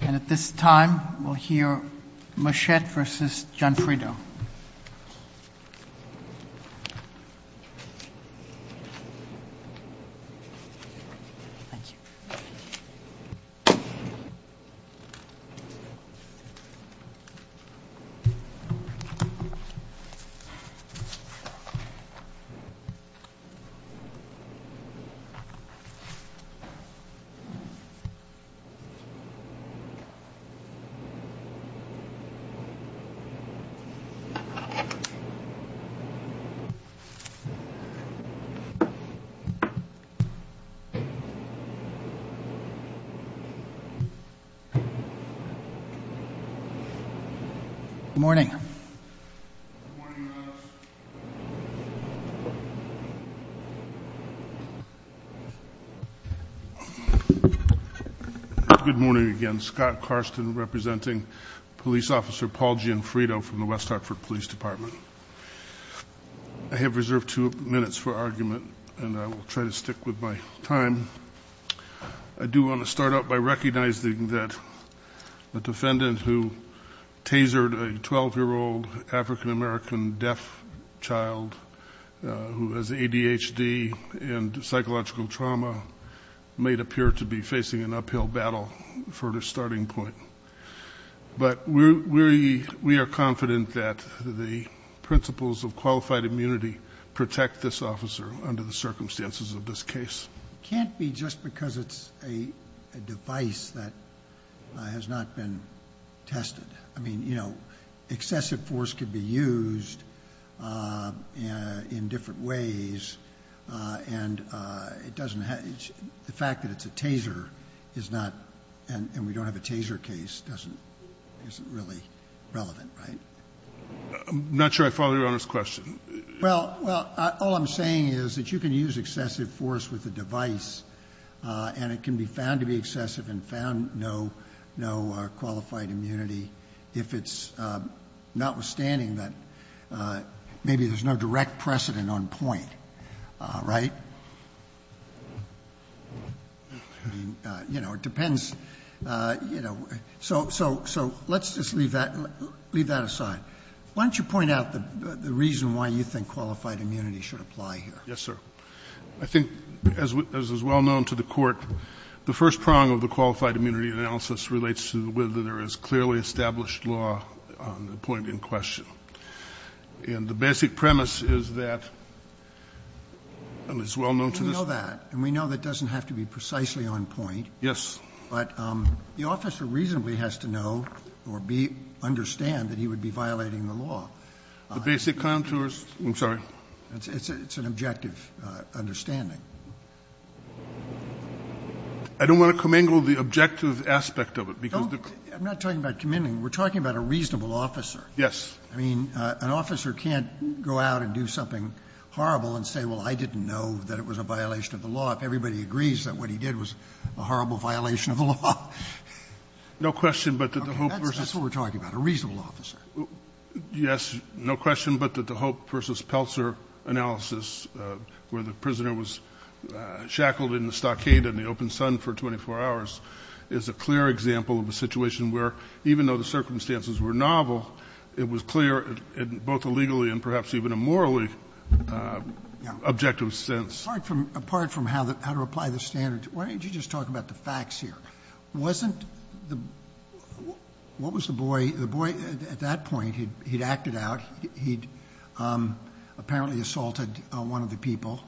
And at this time, we'll hear Muschette v. Gianfrido. Good morning. Good morning again. Scott Carston representing Police Officer Paul Gianfrido from the West Hartford Police Department. I have reserved two minutes for argument, and I will try to stick with my time. I do want to start out by recognizing that the defendant who tasered a 12-year-old African-American deaf child who has ADHD and psychological trauma may appear to be facing an uphill battle for a starting point. But we are confident that the principles of qualified immunity protect this officer under the circumstances of this case. It can't be just because it's a device that has not been tested. I mean, you know, excessive force could be used in different ways, and the fact that it's a taser is not, and we don't have a taser case, isn't really relevant, right? I'm not sure I follow Your Honor's question. Well, all I'm saying is that you can use excessive force with a device, and it can be found to be excessive and found no qualified immunity, if it's notwithstanding that maybe there's no direct precedent on point, right? You know, it depends. So let's just leave that aside. Why don't you point out the reason why you think qualified immunity should apply here. Yes, sir. I think, as is well known to the Court, the first prong of the qualified immunity analysis relates to whether there is clearly established law on the point in question. And the basic premise is that, and it's well known to this Court. We know that, and we know that doesn't have to be precisely on point. Yes. But the officer reasonably has to know or understand that he would be violating the law. The basic contours? I'm sorry? It's an objective understanding. I don't want to commingle the objective aspect of it, because the ---- I'm not talking about commingling. We're talking about a reasonable officer. Yes. I mean, an officer can't go out and do something horrible and say, well, I didn't know that it was a violation of the law. Everybody agrees that what he did was a horrible violation of the law. No question but that the hope versus ---- That's what we're talking about, a reasonable officer. Yes. No question but that the hope versus Peltzer analysis, where the prisoner was shackled in the stockade in the open sun for 24 hours, is a clear example of a situation where, even though the circumstances were novel, it was clear in both a legally and perhaps even a morally objective sense. Apart from how to apply the standards, why don't you just talk about the facts here? Wasn't the ---- what was the boy? The boy, at that point, he'd acted out. He'd apparently assaulted one of the people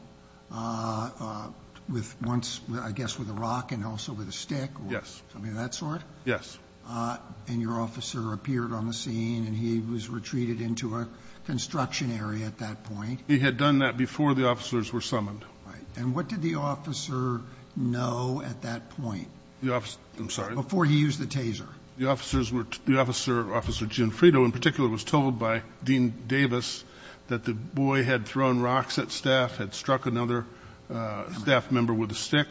with once, I guess, with a rock and also with a stick or something of that sort. Yes. And your officer appeared on the scene, and he was retreated into a construction area at that point. He had done that before the officers were summoned. Right. And what did the officer know at that point? I'm sorry? Before he used the taser. The officer, Officer Jim Frito in particular, was told by Dean Davis that the boy had thrown rocks at staff, had struck another staff member with a stick,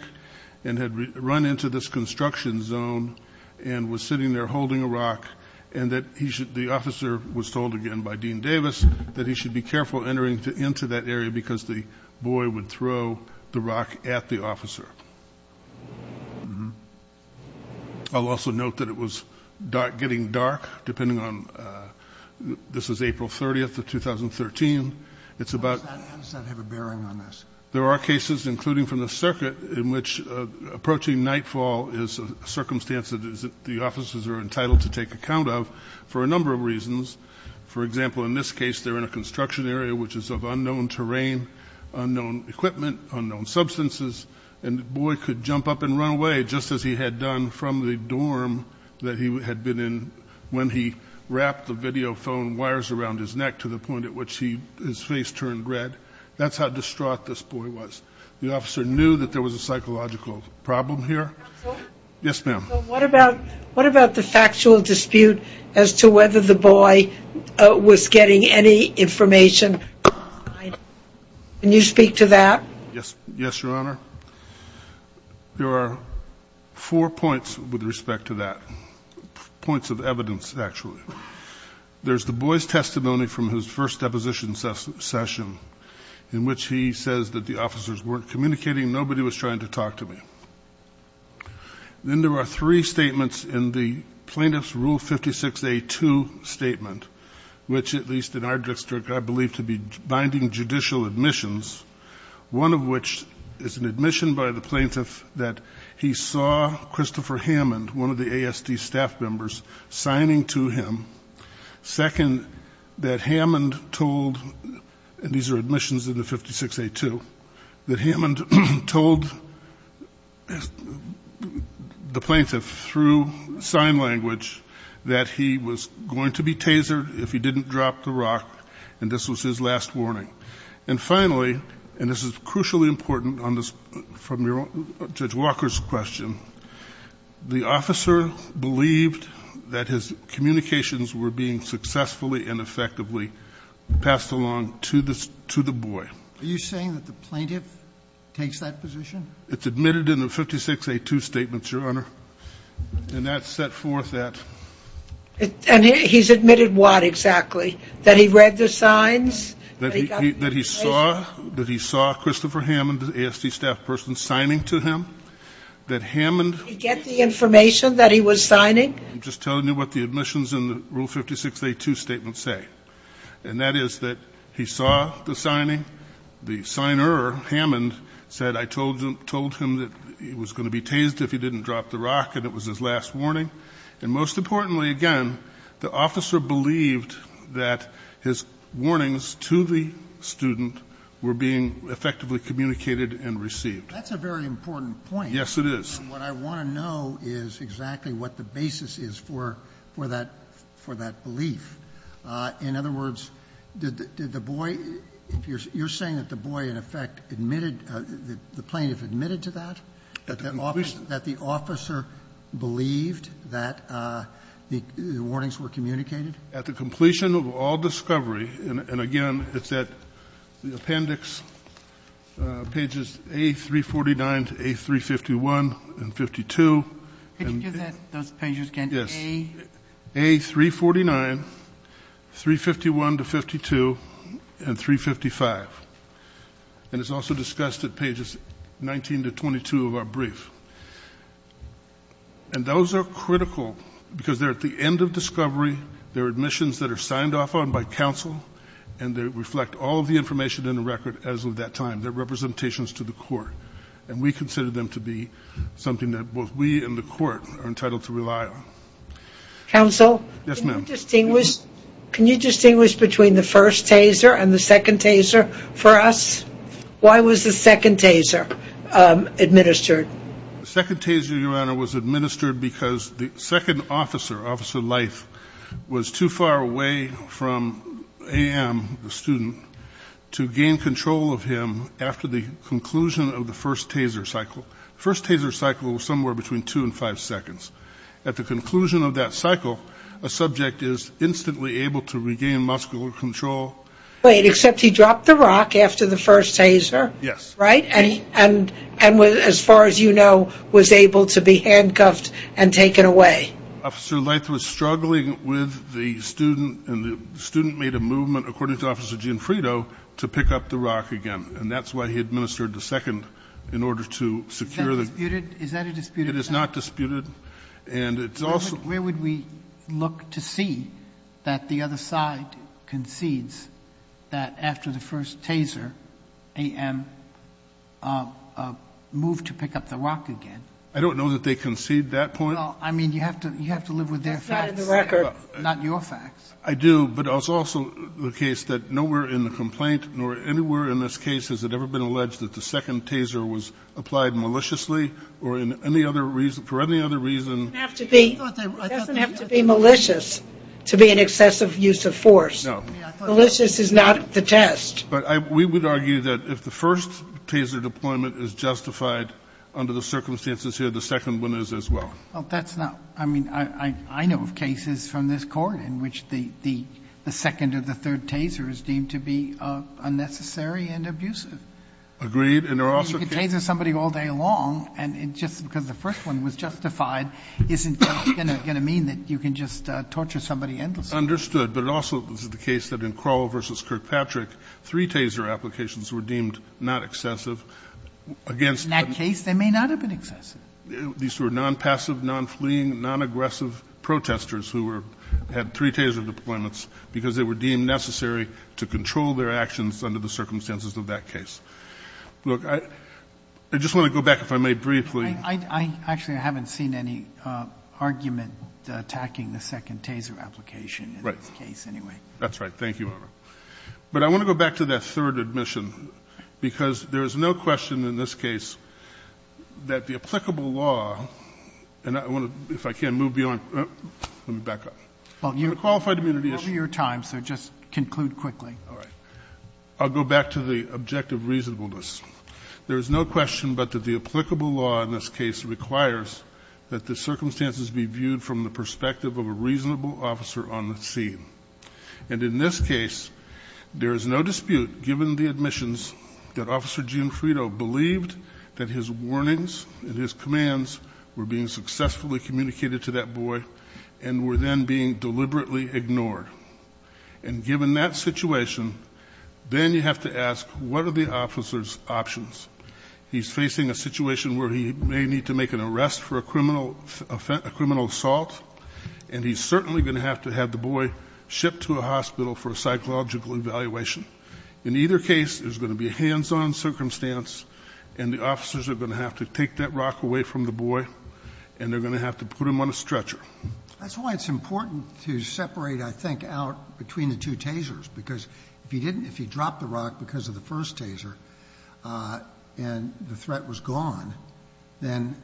and had run into this construction zone and was sitting there holding a rock, and that the officer was told again by Dean Davis that he should be careful entering into that area because the boy would throw the rock at the officer. I'll also note that it was getting dark, depending on ---- this is April 30th of 2013. It's about ---- How does that have a bearing on this? There are cases, including from the circuit, in which approaching nightfall is a circumstance that the officers are entitled to take account of for a number of reasons. For example, in this case, they're in a construction area, which is of unknown terrain, unknown equipment, unknown substances, and the boy could jump up and run away, just as he had done from the dorm that he had been in when he wrapped the video phone wires around his neck to the point at which his face turned red. That's how distraught this boy was. The officer knew that there was a psychological problem here. Counsel? Yes, ma'am. What about the factual dispute as to whether the boy was getting any information? Can you speak to that? Yes, Your Honor. There are four points with respect to that, points of evidence, actually. There's the boy's testimony from his first deposition session, in which he says that the officers weren't communicating, nobody was trying to talk to him. Then there are three statements in the plaintiff's Rule 56A2 statement, which at least in our district I believe to be binding judicial admissions, one of which is an admission by the plaintiff that he saw Christopher Hammond, one of the ASD staff members, signing to him. Second, that Hammond told, and these are admissions in the 56A2, that Hammond told the plaintiff through sign language that he was going to be tasered if he didn't drop the rock, and this was his last warning. And finally, and this is crucially important from Judge Walker's question, the officer believed that his communications were being successfully and effectively passed along to the boy. Are you saying that the plaintiff takes that position? It's admitted in the 56A2 statements, Your Honor. And that set forth that. And he's admitted what exactly? That he read the signs? That he saw Christopher Hammond, the ASD staff person, signing to him? That Hammond. Did he get the information that he was signing? I'm just telling you what the admissions in the Rule 56A2 statement say. And that is that he saw the signing, the signer, Hammond, said, I told him that he was going to be tasered if he didn't drop the rock, and it was his last warning. And most importantly, again, the officer believed that his warnings to the student were being effectively communicated and received. That's a very important point. Yes, it is. What I want to know is exactly what the basis is for that belief. In other words, did the boy, you're saying that the boy in effect admitted, the plaintiff admitted to that? That the officer believed that the warnings were communicated? At the completion of all discovery, and again, it's at the appendix, pages A349 to A351 and 52. Could you give those pages again? Yes. A349, 351 to 52, and 355. And it's also discussed at pages 19 to 22 of our brief. And those are critical because they're at the end of discovery. They're admissions that are signed off on by counsel, and they reflect all of the information in the record as of that time. They're representations to the court. And we consider them to be something that both we and the court are entitled to rely on. Counsel? Yes, ma'am. Can you distinguish between the first taser and the second taser for us? Why was the second taser administered? The second taser, Your Honor, was administered because the second officer, Officer Leith, was too far away from A.M., the student, to gain control of him after the conclusion of the first taser cycle. The first taser cycle was somewhere between two and five seconds. At the conclusion of that cycle, a subject is instantly able to regain muscular control. Wait, except he dropped the rock after the first taser. Yes. Right? And as far as you know, was able to be handcuffed and taken away. Officer Leith was struggling with the student, and the student made a movement, according to Officer Gianfrido, to pick up the rock again. And that's why he administered the second, in order to secure the – Is that disputed? It is not disputed. And it's also – Where would we look to see that the other side concedes that after the first taser, A.M. moved to pick up the rock again? I don't know that they concede that point. Well, I mean, you have to live with their facts. That's not in the record. Not your facts. I do, but it's also the case that nowhere in the complaint, nor anywhere in this case has it ever been alleged that the second taser was applied maliciously or for any other reason. It doesn't have to be malicious to be an excessive use of force. No. Malicious is not the test. But we would argue that if the first taser deployment is justified under the circumstances here, the second one is as well. Well, that's not – I mean, I know of cases from this Court in which the second or the third taser is deemed to be unnecessary and abusive. Agreed. And there are also cases – Isn't that going to mean that you can just torture somebody endlessly? Understood. But it also is the case that in Kroll v. Kirkpatrick, three taser applications were deemed not excessive against – In that case, they may not have been excessive. These were nonpassive, nonfleeing, nonaggressive protesters who were – had three taser deployments because they were deemed necessary to control their actions under the circumstances of that case. Look, I just want to go back, if I may, briefly – I actually haven't seen any argument attacking the second taser application in this case anyway. Right. That's right. Thank you, Your Honor. But I want to go back to that third admission, because there is no question in this case that the applicable law – and I want to, if I can, move beyond – let me back up. On the qualified immunity issue. Well, you're over your time, so just conclude quickly. All right. I'll go back to the objective reasonableness. There is no question but that the applicable law in this case requires that the circumstances be viewed from the perspective of a reasonable officer on the scene. And in this case, there is no dispute, given the admissions, that Officer Gianfrido believed that his warnings and his commands were being successfully communicated to that boy and were then being deliberately ignored. And given that situation, then you have to ask, what are the officer's options? He's facing a situation where he may need to make an arrest for a criminal assault, and he's certainly going to have to have the boy shipped to a hospital for a psychological evaluation. In either case, there's going to be a hands-on circumstance, and the officers are going to have to take that rock away from the boy, and they're going to have to put him on a stretcher. That's why it's important to separate, I think, out between the two tasers, because if he dropped the rock because of the first taser and the threat was gone, then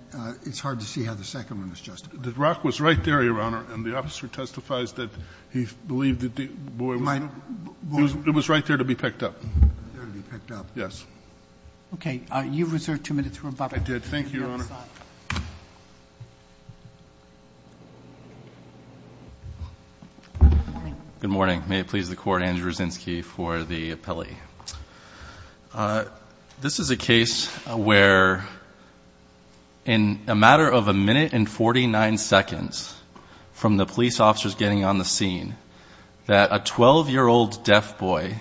it's hard to see how the second one is justified. The rock was right there, Your Honor, and the officer testifies that he believed that the boy was right there to be picked up. There to be picked up. Yes. Okay. You've reserved two minutes for rebuttal. I did. Thank you, Your Honor. Good morning. Good morning. May it please the Court, Andrew Raczynski for the appellee. This is a case where, in a matter of a minute and 49 seconds from the police officers getting on the scene, that a 12-year-old deaf boy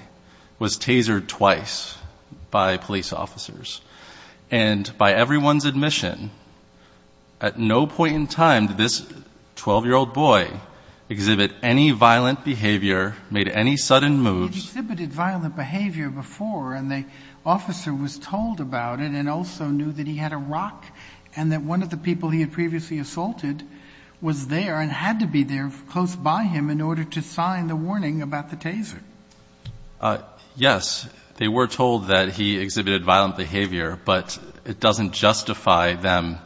was tasered twice by police officers. And by everyone's admission, at no point in time did this 12-year-old boy exhibit any violent behavior, made any sudden moves. He had exhibited violent behavior before, and the officer was told about it and also knew that he had a rock and that one of the people he had previously assaulted was there and had to be there close by him in order to sign the warning about the taser. Yes. They were told that he exhibited violent behavior, but it doesn't justify them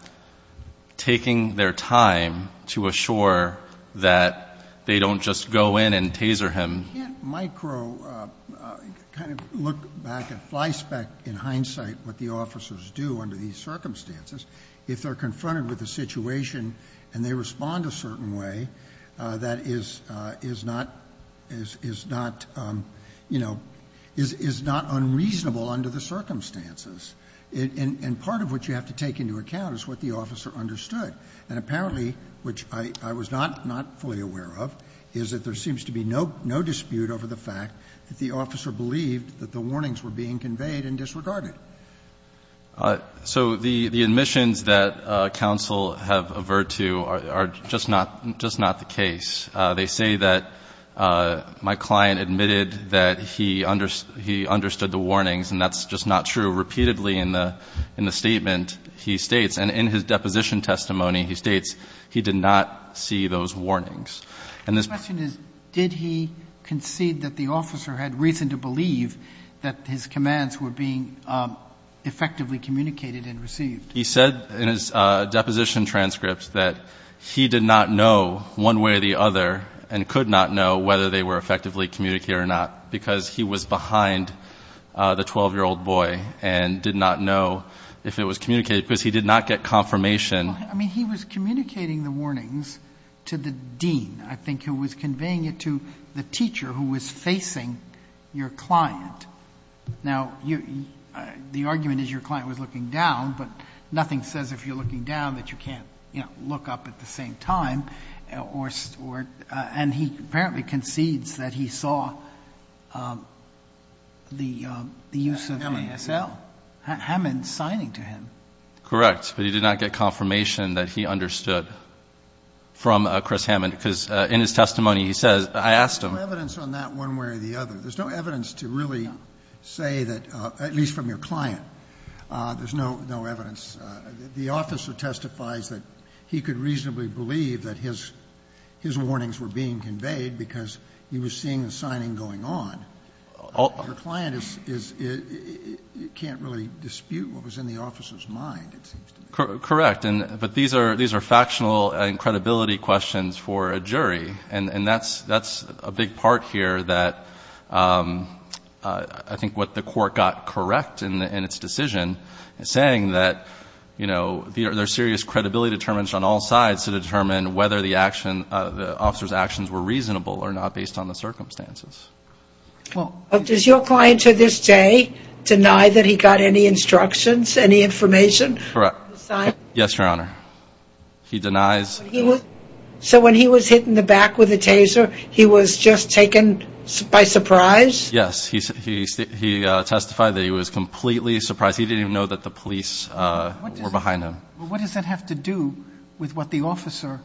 taking their time to assure that they don't just go in and taser him. You can't micro kind of look back at fly spec in hindsight what the officers do under these circumstances. If they're confronted with a situation and they respond a certain way, that is not unreasonable under the circumstances. And part of what you have to take into account is what the officer understood. And apparently, which I was not fully aware of, is that there seems to be no dispute over the fact that the officer believed that the warnings were being conveyed and disregarded. So the admissions that counsel have averred to are just not the case. They say that my client admitted that he understood the warnings, and that's just not true. Repeatedly in the statement, he states, and in his deposition testimony, he states he did not see those warnings. And this question is did he concede that the officer had reason to believe that his commands were being effectively communicated and received? He said in his deposition transcript that he did not know one way or the other and could not know whether they were effectively communicated or not because he was behind the 12-year-old boy and did not know if it was communicated because he did not get confirmation. Well, I mean, he was communicating the warnings to the dean, I think, who was Now, the argument is your client was looking down, but nothing says if you're looking down that you can't, you know, look up at the same time. And he apparently concedes that he saw the use of ASL. Hammond's signing to him. Correct. But he did not get confirmation that he understood from Chris Hammond because in his testimony, he says, I asked him. There's no evidence on that one way or the other. There's no evidence to really say that, at least from your client, there's no evidence. The officer testifies that he could reasonably believe that his warnings were being conveyed because he was seeing the signing going on. Your client can't really dispute what was in the officer's mind, it seems to me. Correct. And that's a big part here that I think what the court got correct in its decision is saying that, you know, there's serious credibility determinants on all sides to determine whether the officer's actions were reasonable or not based on the circumstances. Does your client to this day deny that he got any instructions, any information? Correct. Yes, Your Honor. He denies. So when he was hit in the back with a taser, he was just taken by surprise? Yes. He testified that he was completely surprised. He didn't even know that the police were behind him. What does that have to do with what the officer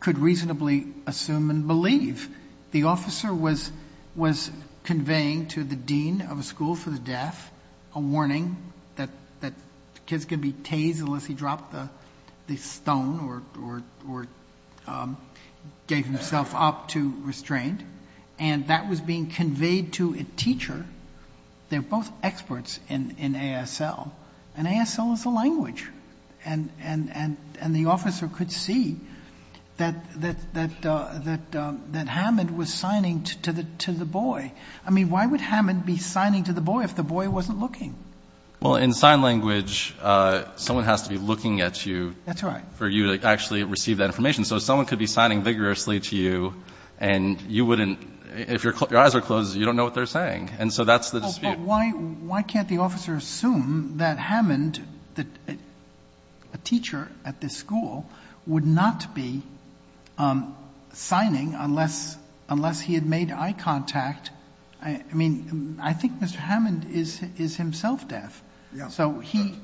could reasonably assume and believe? The officer was conveying to the dean of a school for the deaf a warning that kids could be tased unless he dropped the stone or gave himself up to restraint, and that was being conveyed to a teacher. They're both experts in ASL, and ASL is a language, and the officer could see that Hammond was signing to the boy. I mean, why would Hammond be signing to the boy if the boy wasn't looking? Well, in sign language, someone has to be looking at you. That's right. For you to actually receive that information. So someone could be signing vigorously to you, and you wouldn't — if your eyes are closed, you don't know what they're saying. And so that's the dispute. But why can't the officer assume that Hammond, a teacher at this school, would not be signing unless he had made eye contact? I mean, I think Mr. Hammond is himself deaf, so he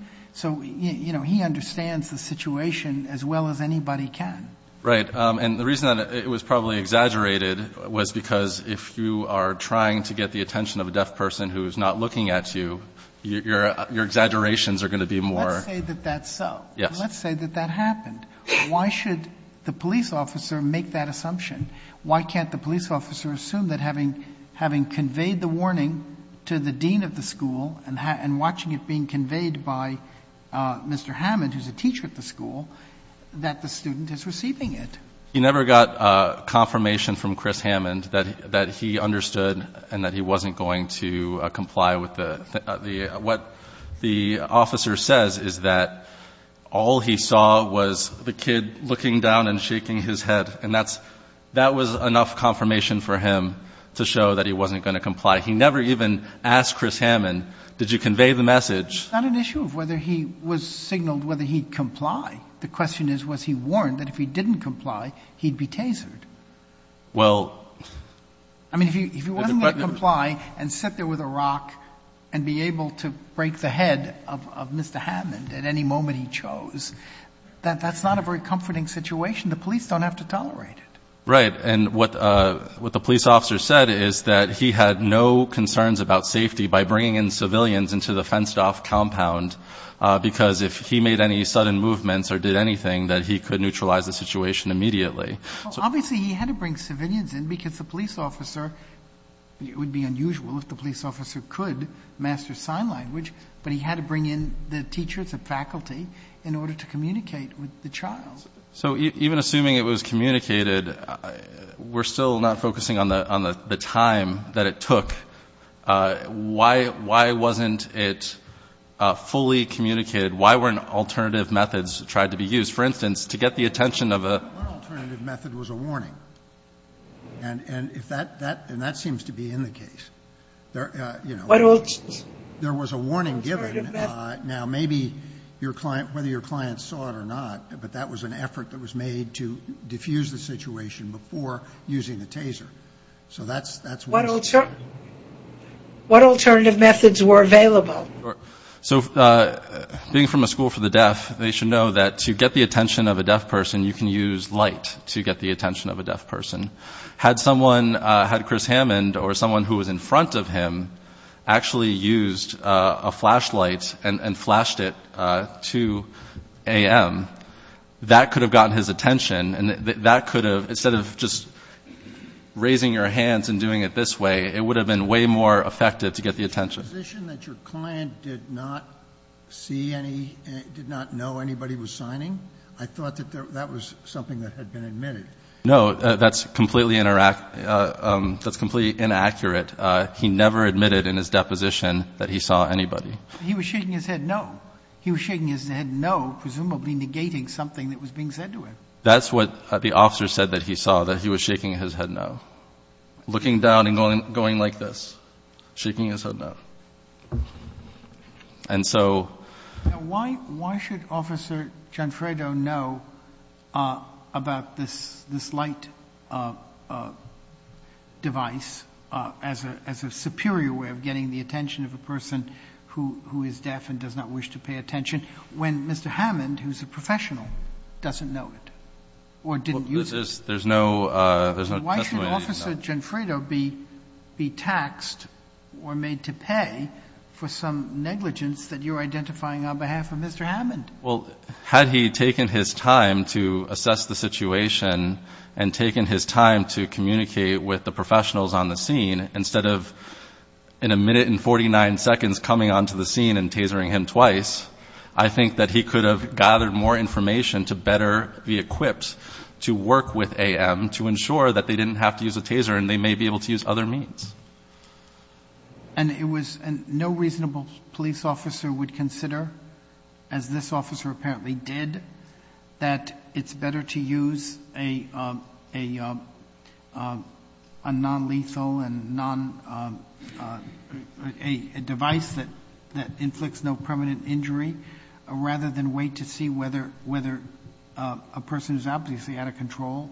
understands the situation as well as anybody can. Right. And the reason that it was probably exaggerated was because if you are trying to get the attention of a deaf person who is not looking at you, your exaggerations are going to be more — Let's say that that's so. Yes. Let's say that that happened. Why should the police officer make that assumption? Why can't the police officer assume that having conveyed the warning to the dean of the school and watching it being conveyed by Mr. Hammond, who's a teacher at the school, that the student is receiving it? He never got confirmation from Chris Hammond that he understood and that he wasn't going to comply with the — what the officer says is that all he saw was the kid looking down and shaking his head, and that's — that was enough confirmation for him to show that he wasn't going to comply. He never even asked Chris Hammond, did you convey the message? It's not an issue of whether he was signaled whether he'd comply. The question is, was he warned that if he didn't comply, he'd be tasered? Well — I mean, if he wasn't going to comply and sit there with a rock and be able to break the head of Mr. Hammond at any moment he chose, that's not a very comforting situation. The police don't have to tolerate it. Right. And what the police officer said is that he had no concerns about safety by bringing in civilians into the fenced-off compound, because if he made any sudden movements or did anything, that he could neutralize the situation immediately. Well, obviously he had to bring civilians in because the police officer — it would be unusual if the police officer could master sign language, but he had to bring in the teachers and faculty in order to communicate with the child. So even assuming it was communicated, we're still not focusing on the time that it took. Why wasn't it fully communicated? Why weren't alternative methods tried to be used? For instance, to get the attention of a — One alternative method was a warning. And that seems to be in the case. There was a warning given. Now, maybe your client — whether your client saw it or not, but that was an effort that was made to diffuse the situation before using the taser. So that's — What alternative methods were available? So being from a school for the deaf, they should know that to get the attention of a deaf person, you can use light to get the attention of a deaf person. Had someone — had Chris Hammond or someone who was in front of him actually used a flashlight and flashed it to A.M., that could have gotten his attention, and that could have — instead of just raising your hands and doing it this way, it would have been way more effective to get the attention. The position that your client did not see any — did not know anybody was signing? I thought that that was something that had been admitted. No, that's completely inaccurate. He never admitted in his deposition that he saw anybody. He was shaking his head no. He was shaking his head no, presumably negating something that was being said to him. That's what the officer said that he saw, that he was shaking his head no. Looking down and going like this. Shaking his head no. And so — Now, why should Officer Gianfredo know about this light device as a superior way of getting the attention of a person who is deaf and does not wish to pay attention when Mr. Hammond, who's a professional, doesn't know it or didn't use it? Why should Officer Gianfredo be taxed or made to pay for some negligence that you're identifying on behalf of Mr. Hammond? Well, had he taken his time to assess the situation and taken his time to communicate with the professionals on the scene, instead of in a minute and 49 seconds coming onto the scene and tasering him twice, I think that he could have gathered more information to better be equipped to work with AM to ensure that they didn't have to use a taser and they may be able to use other means. And it was — no reasonable police officer would consider, as this officer apparently did, that it's better to use a nonlethal and non — a device that inflicts no permanent injury rather than wait to see whether a person who's obviously out of control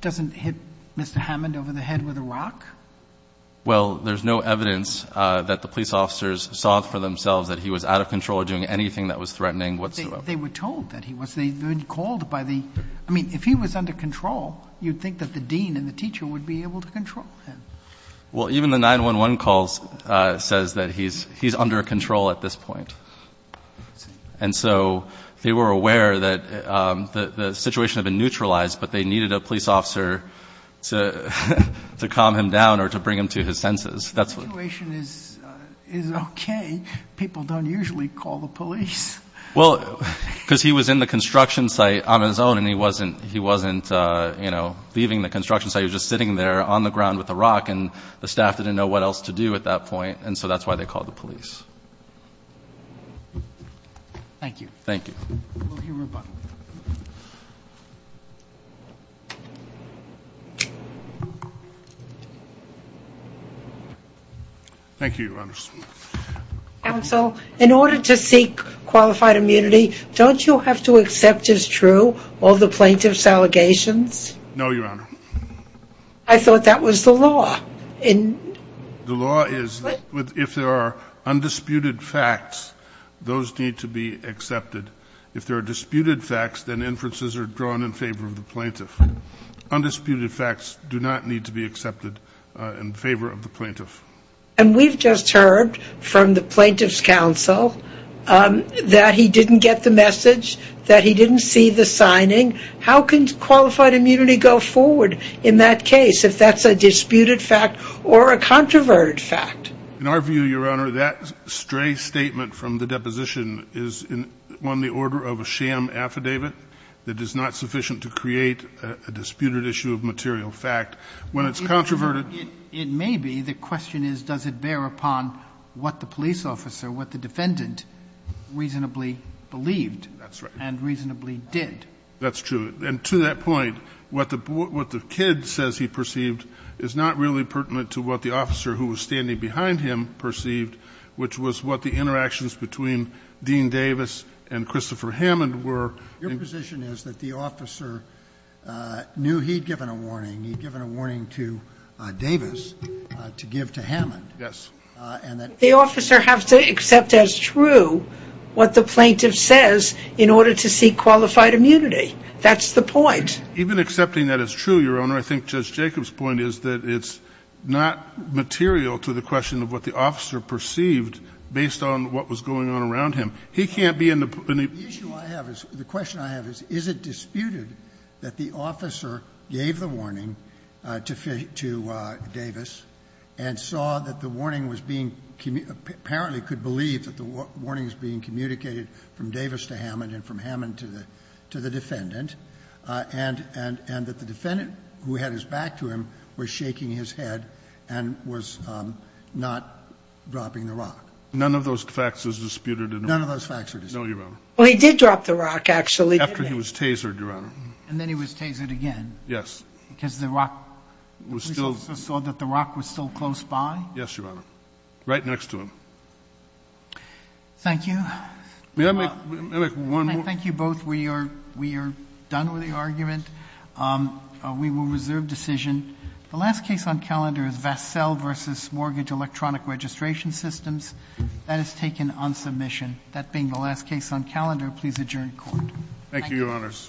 doesn't hit Mr. Hammond over the head with a rock? Well, there's no evidence that the police officers saw for themselves that he was out of control or doing anything that was threatening whatsoever. They were told that he was. They had been called by the — I mean, if he was under control, you'd think that the dean and the teacher would be able to control him. Well, even the 911 calls says that he's under control at this point. And so they were aware that the situation had been neutralized, but they needed a police officer to calm him down or to bring him to his senses. The situation is okay. People don't usually call the police. Well, because he was in the construction site on his own and he wasn't, you know, leaving the construction site. He was just sitting there on the ground with a rock and the staff didn't know what else to do at that point. And so that's why they called the police. Thank you. Thank you. We'll hear from Bob. Thank you, Your Honor. Counsel, in order to seek qualified immunity, don't you have to accept as true all the plaintiffs' allegations? No, Your Honor. I thought that was the law. The law is that if there are undisputed facts, those need to be accepted. If there are disputed facts, then inferences are drawn in favor of the plaintiff. Undisputed facts do not need to be accepted in favor of the plaintiff. And we've just heard from the plaintiff's counsel that he didn't get the message, that he didn't see the signing. How can qualified immunity go forward in that case if that's a disputed fact or a controverted fact? In our view, Your Honor, that stray statement from the deposition is in the order of a sham affidavit that is not sufficient to create a disputed issue of material fact. When it's controverted... It may be. The question is, does it bear upon what the police officer, what the defendant reasonably believed and reasonably did? That's true. And to that point, what the kid says he perceived is not really pertinent to what the officer who was standing behind him perceived, which was what the interactions between Dean Davis and Christopher Hammond were. Your position is that the officer knew he'd given a warning. He'd given a warning to Davis to give to Hammond. Yes. And that... The officer has to accept as true what the plaintiff says in order to seek qualified immunity. That's the point. Even accepting that as true, Your Honor, I think Judge Jacob's point is that it's not material to the question of what the officer perceived based on what was going on around him. He can't be in the... The issue I have is, the question I have is, is it disputed that the officer gave the warning to Davis and saw that the warning was being, apparently could believe that the warning was being communicated from Davis to Hammond and from Hammond to the defendant, and that the defendant who had his back to him was shaking his head and was not dropping the rock? None of those facts is disputed. None of those facts are disputed. No, Your Honor. Well, he did drop the rock, actually, didn't he? After he was tasered, Your Honor. And then he was tasered again. Yes. Because the rock was still... He saw that the rock was still close by? Yes, Your Honor. Right next to him. Thank you. May I make one more... Thank you both. We are done with the argument. We will reserve decision. The last case on calendar is Vassell v. Mortgage Electronic Registration Systems. That being the last case on calendar, please adjourn the Court. Thank you, Your Honors. Thank you, Your Honor. Thank you.